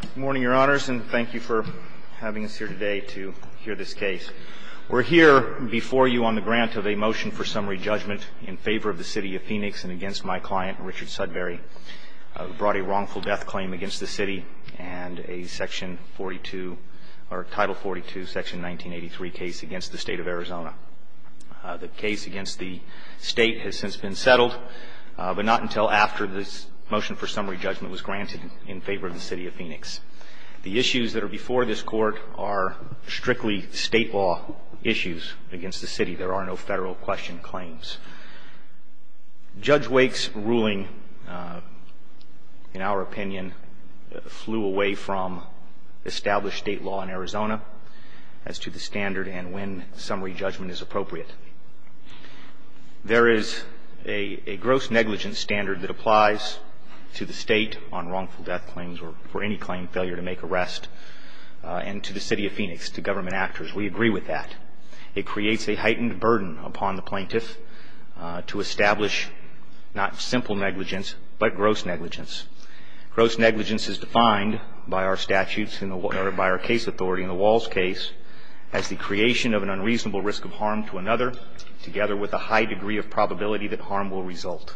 Good morning, Your Honors, and thank you for having us here today to hear this case. We're here before you on the grant of a motion for summary judgment in favor of the City of Phoenix and against my client, Richard Sudberry, who brought a wrongful death claim against the City and a Title 42, Section 1983 case against the State of Arizona. The case against the State has since been settled, but not until after this motion for summary judgment was granted in favor of the City of Phoenix. The issues that are before this Court are strictly State law issues against the City. There are no Federal question claims. Judge Wake's ruling, in our opinion, flew away from established State law in Arizona as to the standard and when summary judgment is appropriate. There is a gross negligence standard that applies to the State on wrongful death claims or for any claim failure to make arrest, and to the City of Phoenix, to government actors. We agree with that. It creates a heightened burden upon the plaintiff to establish not simple negligence but gross negligence. Gross negligence is defined by our statutes and by our case authority in the Walls case as the creation of an unreasonable risk of harm to another, together with a high degree of probability that harm will result.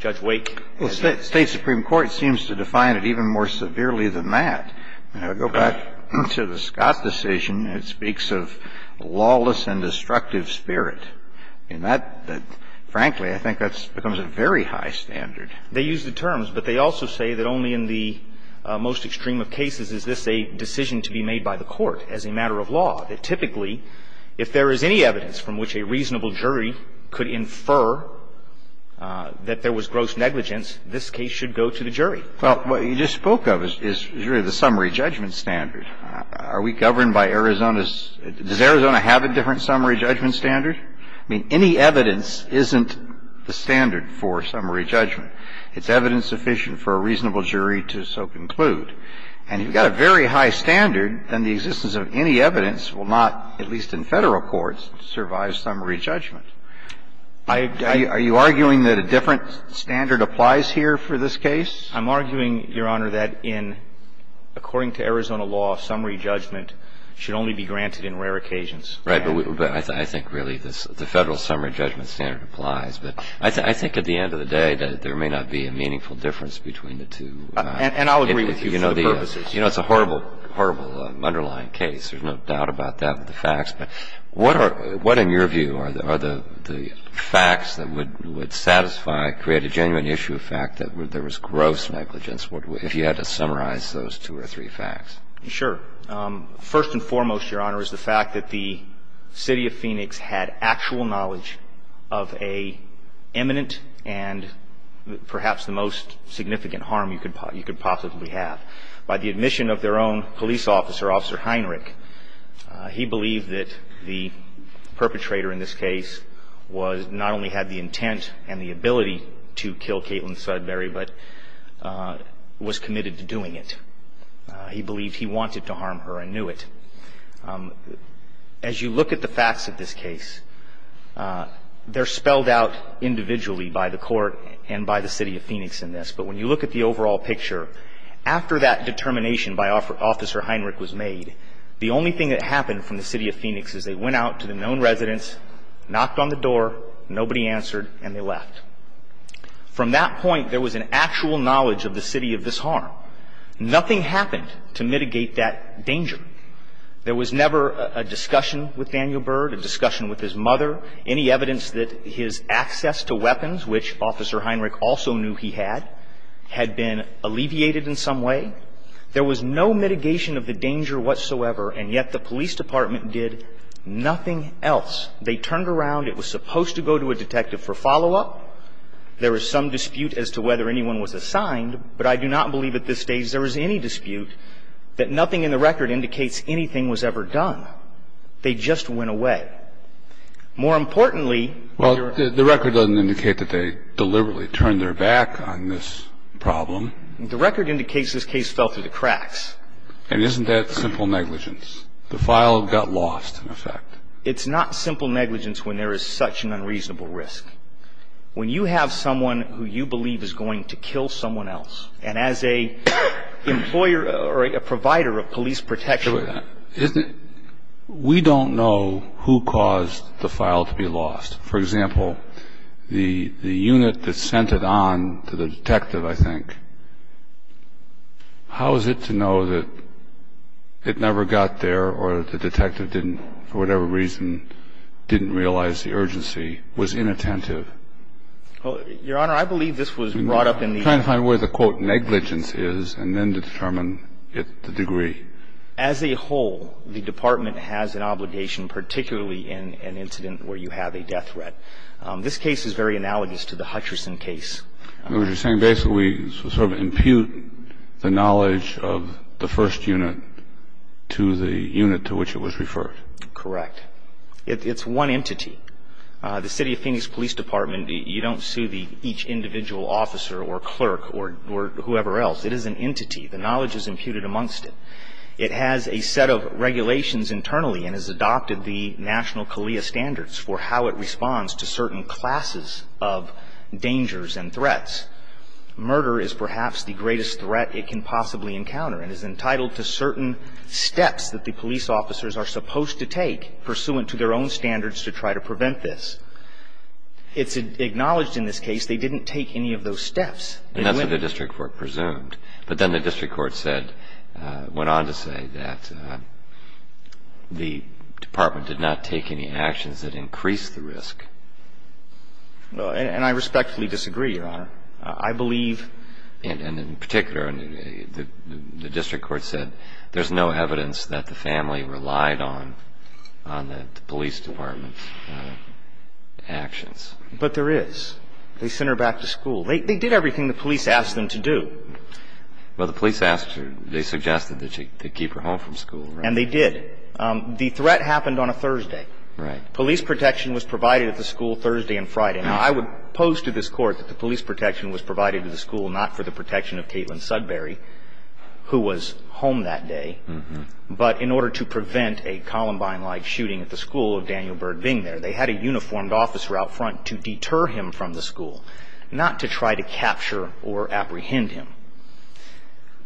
Judge Wake. Well, State supreme court seems to define it even more severely than that. Go back to the Scott decision. It speaks of lawless and destructive spirit. And that, frankly, I think that becomes a very high standard. They use the terms, but they also say that only in the most extreme of cases is this a decision to be made by the court as a matter of law. That typically, if there is any evidence from which a reasonable jury could infer that there was gross negligence, this case should go to the jury. Well, what you just spoke of is really the summary judgment standard. Are we governed by Arizona's – does Arizona have a different summary judgment standard? I mean, any evidence isn't the standard for summary judgment. It's evidence sufficient for a reasonable jury to so conclude. And if you've got a very high standard, then the existence of any evidence will not, at least in Federal courts, survive summary judgment. Are you arguing that a different standard applies here for this case? I'm arguing, Your Honor, that in – according to Arizona law, summary judgment should only be granted in rare occasions. Right. But I think really the Federal summary judgment standard applies. But I think at the end of the day that there may not be a meaningful difference between the two. And I'll agree with you for the purposes. You know, it's a horrible, horrible underlying case. There's no doubt about that with the facts. But what are – what, in your view, are the facts that would satisfy, create a genuine issue of fact that there was gross negligence if you had to summarize those two or three facts? Sure. First and foremost, Your Honor, is the fact that the City of Phoenix had actual knowledge of a imminent and perhaps the most significant harm you could possibly have. By the admission of their own police officer, Officer Heinrich, he believed that the perpetrator in this case was – not only had the intent and the ability to kill Caitlin Sudbury, but was committed to doing it. He believed he wanted to harm her and knew it. As you look at the facts of this case, they're spelled out individually by the Court and by the City of Phoenix in this. But when you look at the overall picture, after that determination by Officer Heinrich was made, the only thing that happened from the City of Phoenix is they went out to the known residence, knocked on the door, nobody answered, and they left. From that point, there was an actual knowledge of the city of this harm. Nothing happened to mitigate that danger. There was never a discussion with Daniel Byrd, a discussion with his mother, any evidence that his access to weapons, which Officer Heinrich also knew he had, had been alleviated in some way. There was no mitigation of the danger whatsoever, and yet the police department did nothing else. They turned around. It was supposed to go to a detective for follow-up. There is some dispute as to whether anyone was assigned, but I do not believe at this stage there is any dispute that nothing in the record indicates anything was ever done. They just went away. More importantly, Your Honor. Well, the record doesn't indicate that they deliberately turned their back on this problem. The record indicates this case fell through the cracks. And isn't that simple negligence? The file got lost, in effect. It's not simple negligence when there is such an unreasonable risk. When you have someone who you believe is going to kill someone else, and as an employer or a provider of police protection. We don't know who caused the file to be lost. For example, the unit that sent it on to the detective, I think, how is it to know that it never got there or the detective didn't, for whatever reason, didn't realize the problem? Well, Your Honor, I believe this was brought up in the... I'm trying to find where the, quote, negligence is and then determine the degree. As a whole, the Department has an obligation, particularly in an incident where you have a death threat. This case is very analogous to the Hutcherson case. You're saying basically we sort of impute the knowledge of the first unit to the unit to which it was referred. Correct. It's one entity. The City of Phoenix Police Department, you don't sue each individual officer or clerk or whoever else. It is an entity. The knowledge is imputed amongst it. It has a set of regulations internally and has adopted the national CALEA standards for how it responds to certain classes of dangers and threats. Murder is perhaps the greatest threat it can possibly encounter and is entitled to certain steps that the police officers are supposed to take pursuant to their own standards to try to prevent this. It's acknowledged in this case they didn't take any of those steps. And that's what the district court presumed. But then the district court said, went on to say that the department did not take any actions that increased the risk. And I respectfully disagree, Your Honor. I believe... And in particular, the district court said there's no evidence that the family relied on on the police department's actions. But there is. They sent her back to school. They did everything the police asked them to do. Well, the police asked her. They suggested that they keep her home from school, right? And they did. The threat happened on a Thursday. Right. Police protection was provided at the school Thursday and Friday. Now, I would pose to this Court that the police protection was provided to the school not for the protection of Caitlin Sudbury, who was home that day, but in order to prevent a Columbine-like shooting at the school of Daniel Byrd being there. They had a uniformed officer out front to deter him from the school, not to try to capture or apprehend him.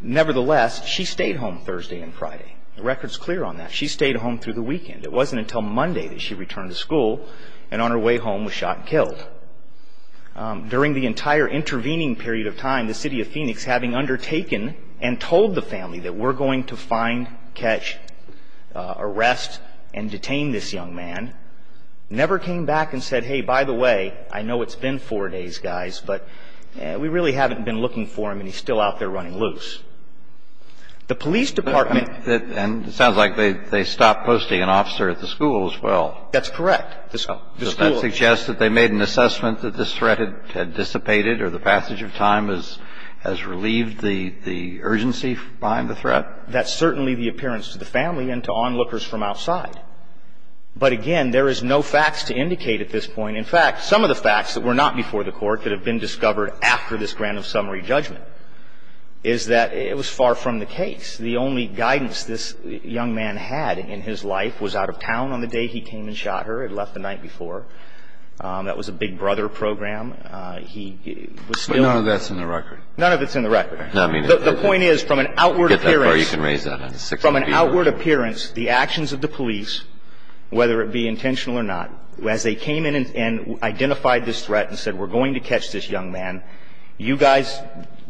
Nevertheless, she stayed home Thursday and Friday. The record's clear on that. She stayed home through the weekend. It wasn't until Monday that she returned to school and on her way home was shot and killed. During the entire intervening period of time, the city of Phoenix, having undertaken and told the family that we're going to find, catch, arrest, and detain this young man, never came back and said, hey, by the way, I know it's been four days, guys, but we really haven't been looking for him and he's still out there running loose. The police department... And it sounds like they stopped posting an officer at the school as well. That's correct. The school... Does that suggest that they made an assessment that this threat had dissipated or the passage of time has relieved the urgency behind the threat? That's certainly the appearance to the family and to onlookers from outside. But, again, there is no facts to indicate at this point. In fact, some of the facts that were not before the Court that have been discovered after this grant of summary judgment is that it was far from the case. The only guidance this young man had in his life was out of town on the day he came and shot her. He had left the night before. That was a Big Brother program. He was still... None of that's in the record. None of it's in the record. The point is, from an outward appearance... Get that far, you can raise that. From an outward appearance, the actions of the police, whether it be intentional or not, as they came in and identified this threat and said, we're going to catch this young man, you guys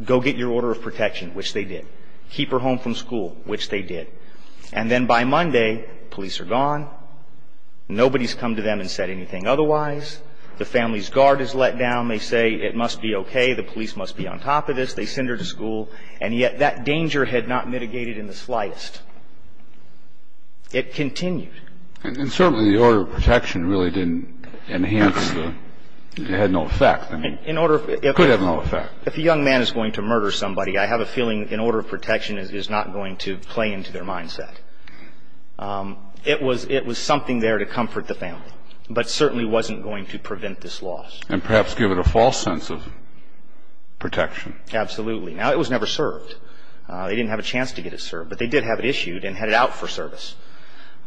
go get your order of protection, which they did. Keep her home from school, which they did. And then by Monday, police are gone. Nobody's come to them and said anything otherwise. The family's guard is let down. They say it must be okay, the police must be on top of this. They send her to school. And yet that danger had not mitigated in the slightest. It continued. And certainly the order of protection really didn't enhance the – it had no effect. In order of... It could have no effect. If a young man is going to murder somebody, I have a feeling an order of protection is not going to play into their mindset. It was something there to comfort the family, but certainly wasn't going to prevent this loss. And perhaps give it a false sense of protection. Absolutely. Now, it was never served. They didn't have a chance to get it served. But they did have it issued and had it out for service.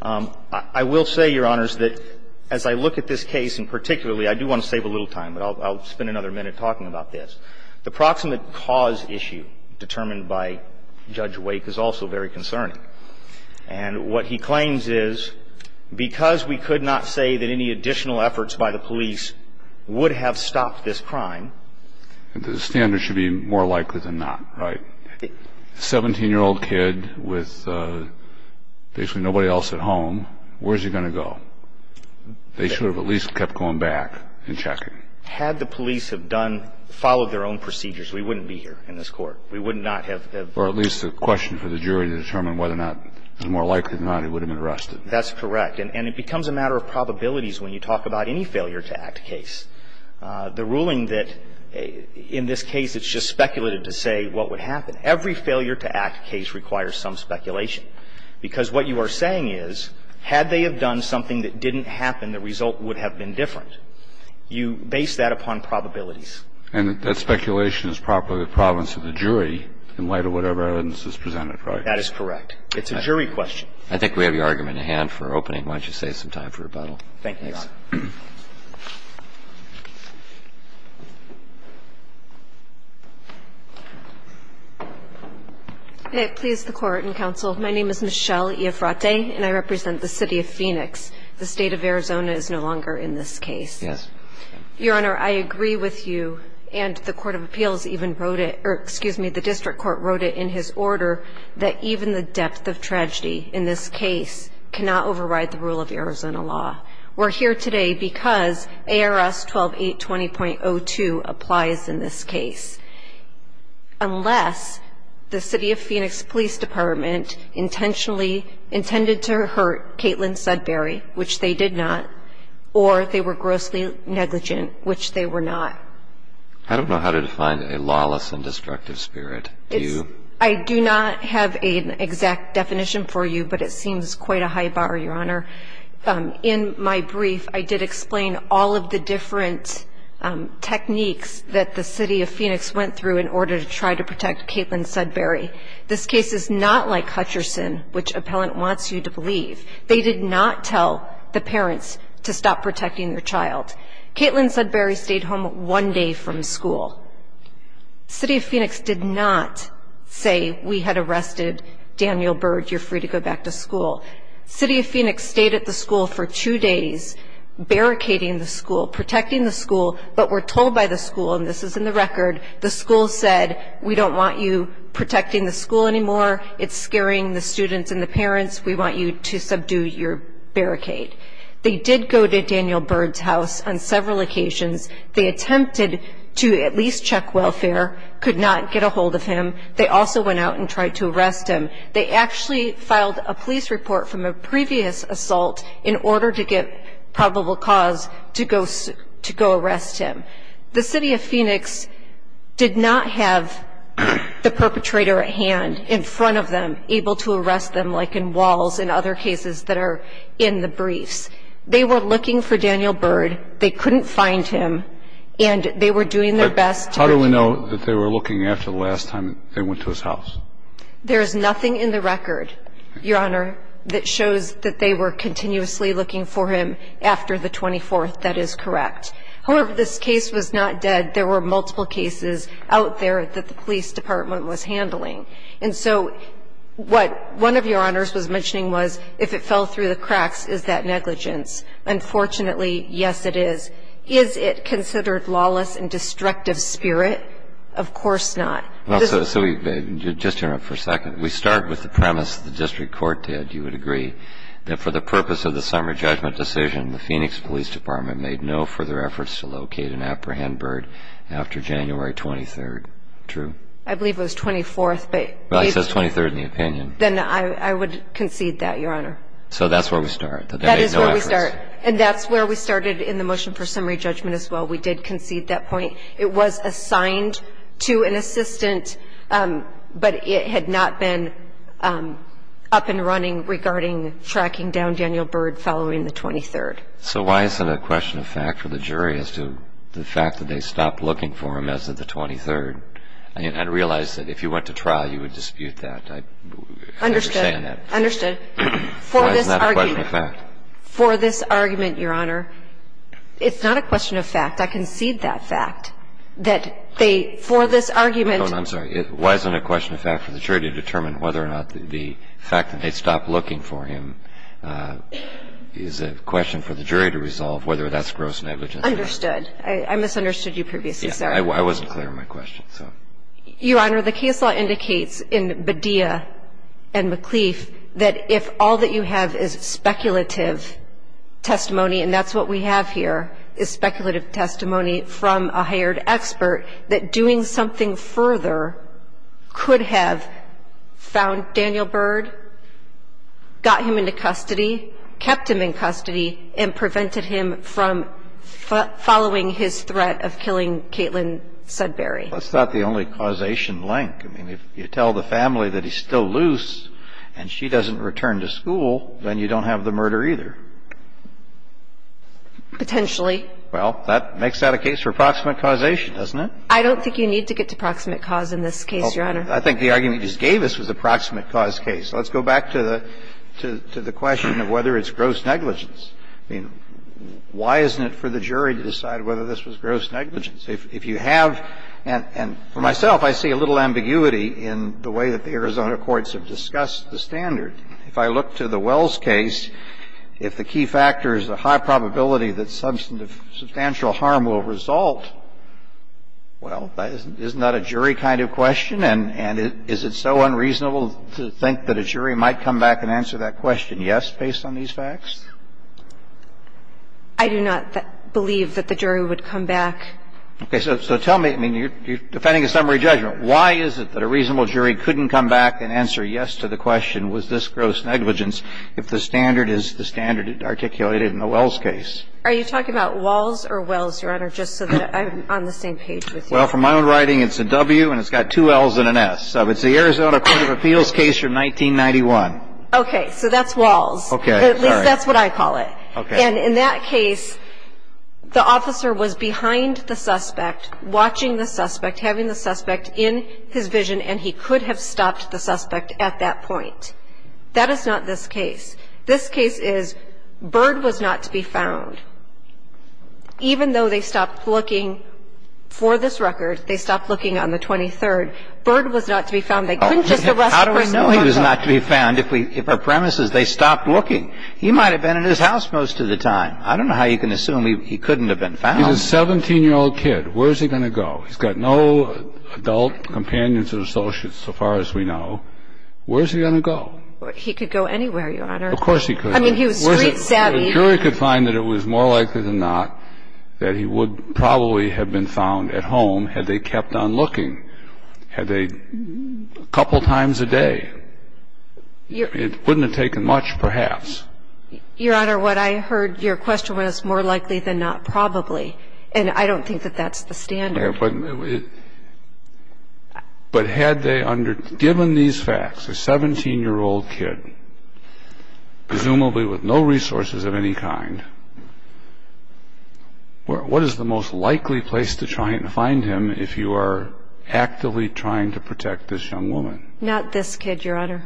I will say, Your Honors, that as I look at this case, and particularly I do want to save a little time, but I'll spend another minute talking about this. The proximate cause issue determined by Judge Wake is also very concerning. And what he claims is because we could not say that any additional efforts by the police would have stopped this crime... The standard should be more likely than not, right? A 17-year-old kid with basically nobody else at home, where is he going to go? They should have at least kept going back and checking. Had the police have done, followed their own procedures, we wouldn't be here in this court. We would not have... Or at least a question for the jury to determine whether or not, more likely than not, he would have been arrested. That's correct. And it becomes a matter of probabilities when you talk about any failure-to-act case. The ruling that in this case it's just speculated to say what would happen. Every failure-to-act case requires some speculation. Because what you are saying is, had they have done something that didn't happen, the result would have been different. You base that upon probabilities. And that speculation is probably the province of the jury in light of whatever evidence is presented, right? That is correct. It's a jury question. I think we have your argument at hand for opening. Why don't you save some time for rebuttal? Thank you, Your Honor. May it please the Court and counsel, my name is Michelle Iafrate, and I represent the City of Phoenix. And I'm here today because I believe that in this case, the State of Arizona is no longer in this case. Yes. Your Honor, I agree with you, and the Court of Appeals even wrote it, or excuse me, the District Court wrote it in his order, that even the depth of tragedy in this case cannot override the rule of Arizona law. We're here today because ARS 12820.02 applies in this case. Unless the City of Phoenix Police Department intentionally intended to hurt Caitlin Sudbury, which they did not, or they were grossly negligent, which they were not. I don't know how to define a lawless and destructive spirit. Do you? I do not have an exact definition for you, but it seems quite a high bar, Your Honor. In my brief, I did explain all of the different techniques that the City of Phoenix went through in order to try to protect Caitlin Sudbury. This case is not like Hutcherson, which appellant wants you to believe. They did not tell the parents to stop protecting their child. Caitlin Sudbury stayed home one day from school. City of Phoenix did not say, we had arrested Daniel Byrd, you're free to go back to school. City of Phoenix stayed at the school for two days, barricading the school, protecting the school, but were told by the school, and this is in the record, the school said, we don't want you protecting the school anymore. It's scaring the students and the parents. We want you to subdue your barricade. They did go to Daniel Byrd's house on several occasions. They attempted to at least check welfare, could not get a hold of him. They also went out and tried to arrest him. They actually filed a police report from a previous assault in order to get probable cause to go arrest him. The City of Phoenix did not have the perpetrator at hand in front of them, able to arrest them like in Walls and other cases that are in the briefs. They were looking for Daniel Byrd. They couldn't find him, and they were doing their best to get him. But how do we know that they were looking after the last time they went to his house? There is nothing in the record, Your Honor, that shows that they were continuously looking for him after the 24th. That is correct. However, this case was not dead. There were multiple cases out there that the police department was handling. And so what one of Your Honors was mentioning was if it fell through the cracks, is that negligence? Unfortunately, yes, it is. Is it considered lawless and destructive spirit? Of course not. Just to interrupt for a second. We start with the premise the district court did, you would agree, that for the purpose of the summary judgment decision, the Phoenix Police Department made no further efforts to locate and apprehend Byrd after January 23rd. True? I believe it was 24th. Well, it says 23rd in the opinion. Then I would concede that, Your Honor. So that's where we start. That is where we start. And that's where we started in the motion for summary judgment as well. We did concede that point. It was assigned to an assistant, but it had not been up and running regarding tracking down Daniel Byrd following the 23rd. So why isn't it a question of fact for the jury as to the fact that they stopped looking for him as of the 23rd? I realize that if you went to trial, you would dispute that. I understand that. Understood. Understood. Why isn't that a question of fact? For this argument, Your Honor, it's not a question of fact. I concede that fact, that they, for this argument. Hold on. I'm sorry. Why isn't it a question of fact for the jury to determine whether or not the fact that they stopped looking for him is a question for the jury to resolve whether that's gross negligence? Understood. I misunderstood you previously, sir. I wasn't clear on my question, so. Your Honor, the case law indicates in Badia and McLeaf that if all that you have is speculative testimony, and that's what we have here, is speculative testimony from a hired expert, that doing something further could have found Daniel Byrd, got him into custody, kept him in custody, and prevented him from following his threat of killing Caitlin Sudbury. Well, it's not the only causation link. I mean, if you tell the family that he's still loose and she doesn't return to school, then you don't have the murder either. Potentially. Well, that makes that a case for proximate causation, doesn't it? I don't think you need to get to proximate cause in this case, Your Honor. I think the argument you just gave us was a proximate cause case. Let's go back to the question of whether it's gross negligence. I mean, why isn't it for the jury to decide whether this was gross negligence? If you have, and for myself, I see a little ambiguity in the way that the Arizona courts have discussed the standard. If I look to the Wells case, if the key factor is the high probability that substantial harm will result, well, isn't that a jury kind of question? And is it so unreasonable to think that a jury might come back and answer that question, yes, based on these facts? I do not believe that the jury would come back. Okay. So tell me, I mean, you're defending a summary judgment. Why is it that a reasonable jury couldn't come back and answer yes to the question, was this gross negligence, if the standard is the standard articulated in the Wells case? Are you talking about Walls or Wells, Your Honor, just so that I'm on the same page with you? Well, from my own writing, it's a W and it's got two L's and an S. So it's the Arizona Court of Appeals case from 1991. Okay. So that's Walls. Okay. At least that's what I call it. Okay. And in that case, the officer was behind the suspect, watching the suspect, having the suspect in his vision, and he could have stopped the suspect at that point. That is not this case. This case is Bird was not to be found. Even though they stopped looking for this record, they stopped looking on the 23rd, Bird was not to be found. They couldn't just arrest the person. How do we know he was not to be found if our premise is they stopped looking? He might have been in his house most of the time. I don't know how you can assume he couldn't have been found. He's a 17-year-old kid. Where is he going to go? He's got no adult companions or associates so far as we know. Where is he going to go? He could go anywhere, Your Honor. Of course he could. I mean, he was street savvy. The jury could find that it was more likely than not that he would probably have been found at home had they kept on looking, had they a couple times a day. It wouldn't have taken much, perhaps. Your Honor, what I heard, your question was more likely than not probably. And I don't think that that's the standard. But had they, given these facts, a 17-year-old kid, presumably with no resources of any kind, what is the most likely place to try and find him if you are actively trying to protect this young woman? Not this kid, Your Honor.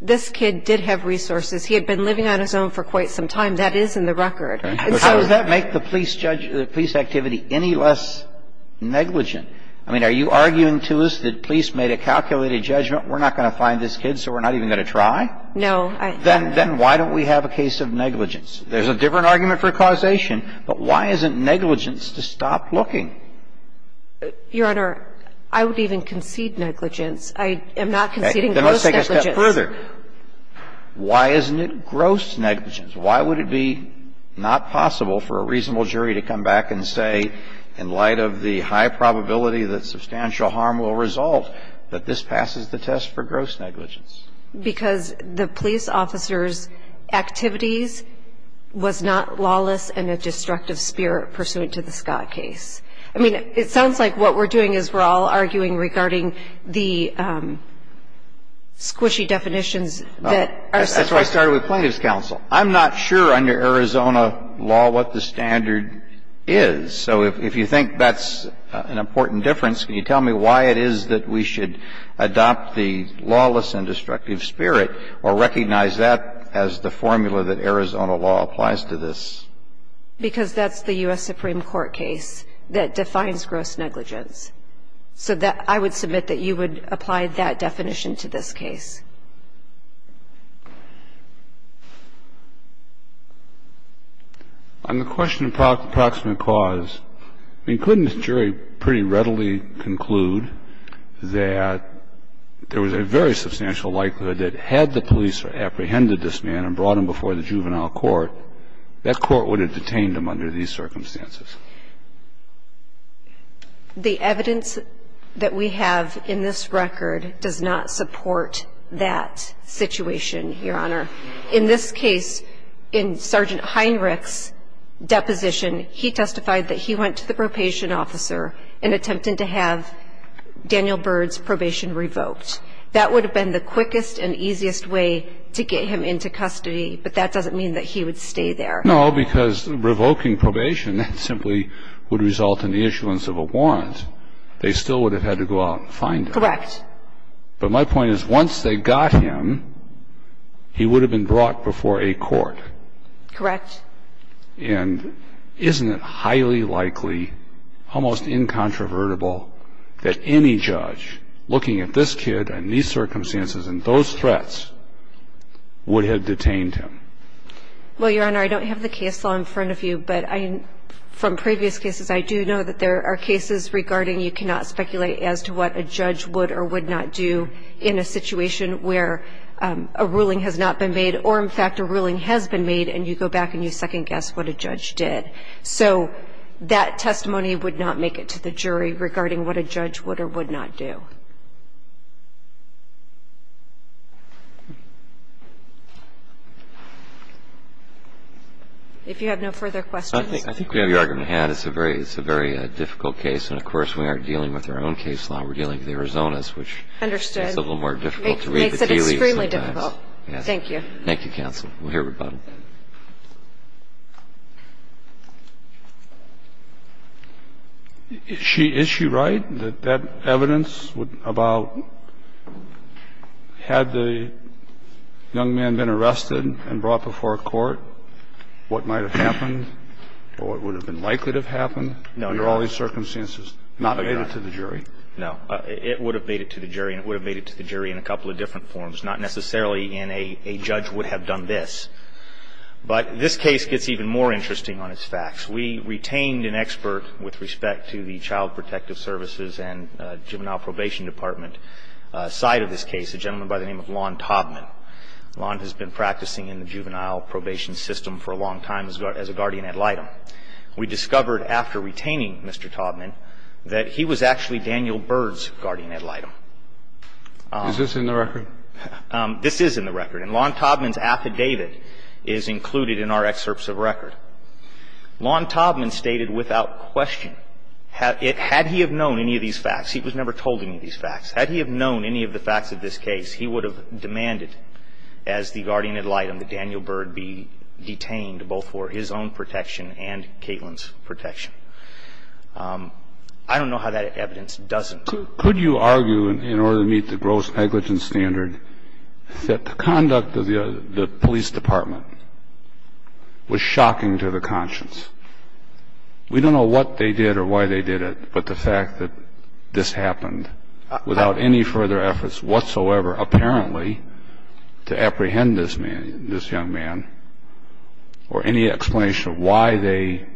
This kid did have resources. He had been living on his own for quite some time. That is in the record. How does that make the police activity any less negligent? I mean, are you arguing to us that police made a calculated judgment, we're not going to find this kid so we're not even going to try? No. Then why don't we have a case of negligence? There's a different argument for causation, but why isn't negligence to stop looking? Your Honor, I would even concede negligence. I am not conceding gross negligence. Then let's take it a step further. Why isn't it gross negligence? Why would it be not possible for a reasonable jury to come back and say, in light of the high probability that substantial harm will result, that this passes the test for gross negligence? Because the police officer's activities was not lawless in a destructive spirit pursuant to the Scott case. I mean, it sounds like what we're doing is we're all arguing regarding the squishy definitions that are suggested. That's why I started with plaintiff's counsel. I'm not sure under Arizona law what the standard is. So if you think that's an important difference, can you tell me why it is that we should adopt the lawless and destructive spirit or recognize that as the formula that Arizona law applies to this? Because that's the U.S. Supreme Court case that defines gross negligence. So I would submit that you would apply that definition to this case. On the question of proximate cause, I mean, couldn't the jury pretty readily conclude that there was a very substantial likelihood that had the police apprehended this man and brought him before the juvenile court, that court would have detained him under these circumstances? The evidence that we have in this record does not support that situation, Your Honor. In this case, in Sergeant Heinrich's deposition, he testified that he went to the probation officer in attempting to have Daniel Byrd's probation revoked. That would have been the quickest and easiest way to get him into custody, but that doesn't mean that he would stay there. No, because revoking probation simply would result in the issuance of a warrant. They still would have had to go out and find him. Correct. But my point is, once they got him, he would have been brought before a court. Correct. And isn't it highly likely, almost incontrovertible, that any judge looking at this kid and these circumstances and those threats would have detained him? Well, Your Honor, I don't have the case law in front of you, but from previous cases, I do know that there are cases regarding you cannot speculate as to what a judge would or would not do in a situation where a ruling has not been made or, in fact, a ruling has been made, and you go back and you second-guess what a judge did. So that testimony would not make it to the jury regarding what a judge would or would not do. If you have no further questions. I think we have the argument in hand. It's a very difficult case, and of course, we aren't dealing with our own case law. We're dealing with Arizona's, which is a little more difficult to read. Makes it extremely difficult. Thank you. Thank you, counsel. We'll hear rebuttal. Is she right that that evidence about had the young man been arrested and brought before court, what might have happened or what would have been likely to have happened under all these circumstances not made it to the jury? No. It would have made it to the jury, and it would have made it to the jury in a couple of different forms. Not necessarily in a judge would have done this. But this case gets even more interesting on its facts. We retained an expert with respect to the Child Protective Services and Juvenile Probation Department side of this case, a gentleman by the name of Lon Taubman. Lon has been practicing in the juvenile probation system for a long time as a guardian ad litem. We discovered after retaining Mr. Taubman that he was actually Daniel Byrd's guardian ad litem. Is this in the record? This is in the record. And Lon Taubman's affidavit is included in our excerpts of record. Lon Taubman stated without question, had he have known any of these facts, he was never told any of these facts. Had he have known any of the facts of this case, he would have demanded as the guardian ad litem that Daniel Byrd be detained both for his own protection and Caitlin's protection. I don't know how that evidence doesn't. Could you argue, in order to meet the gross negligence standard, that the conduct of the police department was shocking to the conscience? We don't know what they did or why they did it, but the fact that this happened without any further efforts whatsoever, apparently, to apprehend this young man or any explanation of why they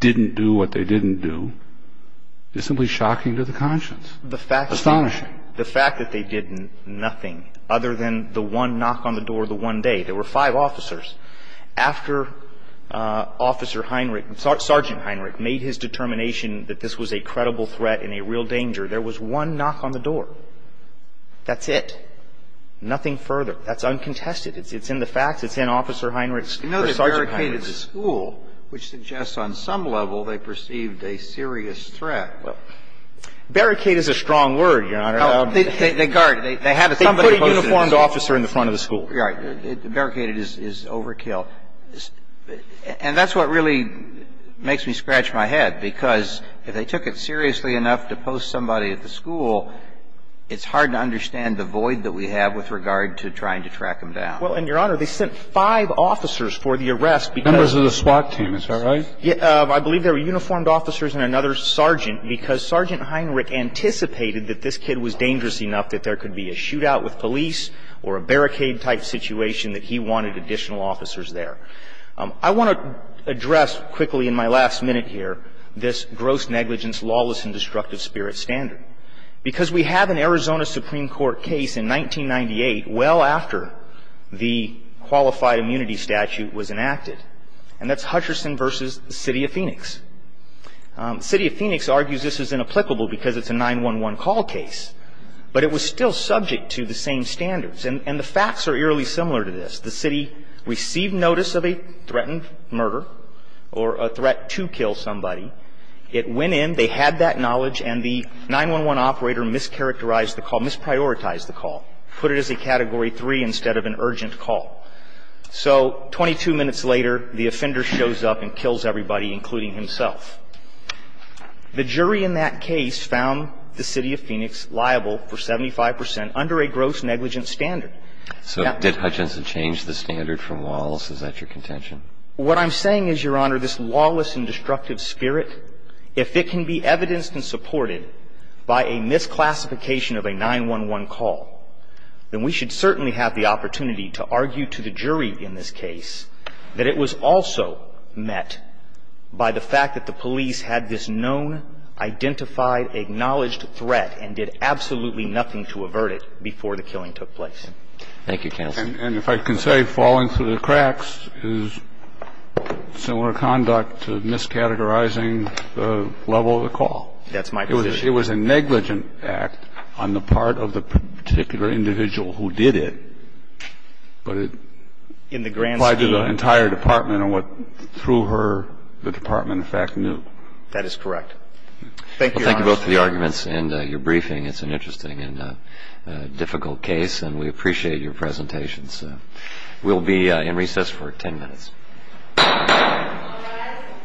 didn't do what they didn't do, is simply shocking to the conscience. Astonishing. The fact that they did nothing other than the one knock on the door the one day, there were five officers. After Officer Heinrich, Sergeant Heinrich, made his determination that this was a credible threat and a real danger, there was one knock on the door. That's it. Nothing further. That's uncontested. It's in the facts. It's in Officer Heinrich's or Sergeant Heinrich's. And they barricaded the school, which suggests on some level they perceived a serious threat. Well, barricade is a strong word, Your Honor. They guard. They have somebody posted. They put a uniformed officer in front of the school. Right. Barricaded is overkill. And that's what really makes me scratch my head, because if they took it seriously enough to post somebody at the school, it's hard to understand the void that we have with regard to trying to track them down. Well, and, Your Honor, they sent five officers for the arrest because of the SWAT team. Is that right? I believe there were uniformed officers and another sergeant because Sergeant Heinrich anticipated that this kid was dangerous enough that there could be a shootout with police or a barricade-type situation that he wanted additional officers there. I want to address quickly in my last minute here this gross negligence, lawless and destructive spirit standard. Because we have an Arizona Supreme Court case in 1998, well after the qualified immunity statute was enacted, and that's Hutcherson v. City of Phoenix. City of Phoenix argues this is inapplicable because it's a 911 call case. But it was still subject to the same standards. And the facts are eerily similar to this. The city received notice of a threatened murder or a threat to kill somebody. It went in. They had that knowledge. And the 911 operator mischaracterized the call, misprioritized the call, put it as a Category 3 instead of an urgent call. So 22 minutes later, the offender shows up and kills everybody, including himself. The jury in that case found the City of Phoenix liable for 75 percent under a gross negligence standard. So did Hutcherson change the standard from lawless? Is that your contention? What I'm saying is, Your Honor, this lawless and destructive spirit, if it can be evidenced and supported by a misclassification of a 911 call, then we should certainly have the opportunity to argue to the jury in this case that it was also met by the fact that the police had this known, identified, acknowledged threat and did absolutely nothing to avert it before the killing took place. Thank you, counsel. And if I can say, falling through the cracks is similar conduct to miscategorizing the level of the call. That's my position. It was a negligent act on the part of the particular individual who did it. But it applied to the entire department and what, through her, the department in fact knew. That is correct. Thank you, Your Honor. Well, thank you both for the arguments and your briefing. It's an interesting and difficult case. And we appreciate your presentations. We'll be in recess for ten minutes. All rise.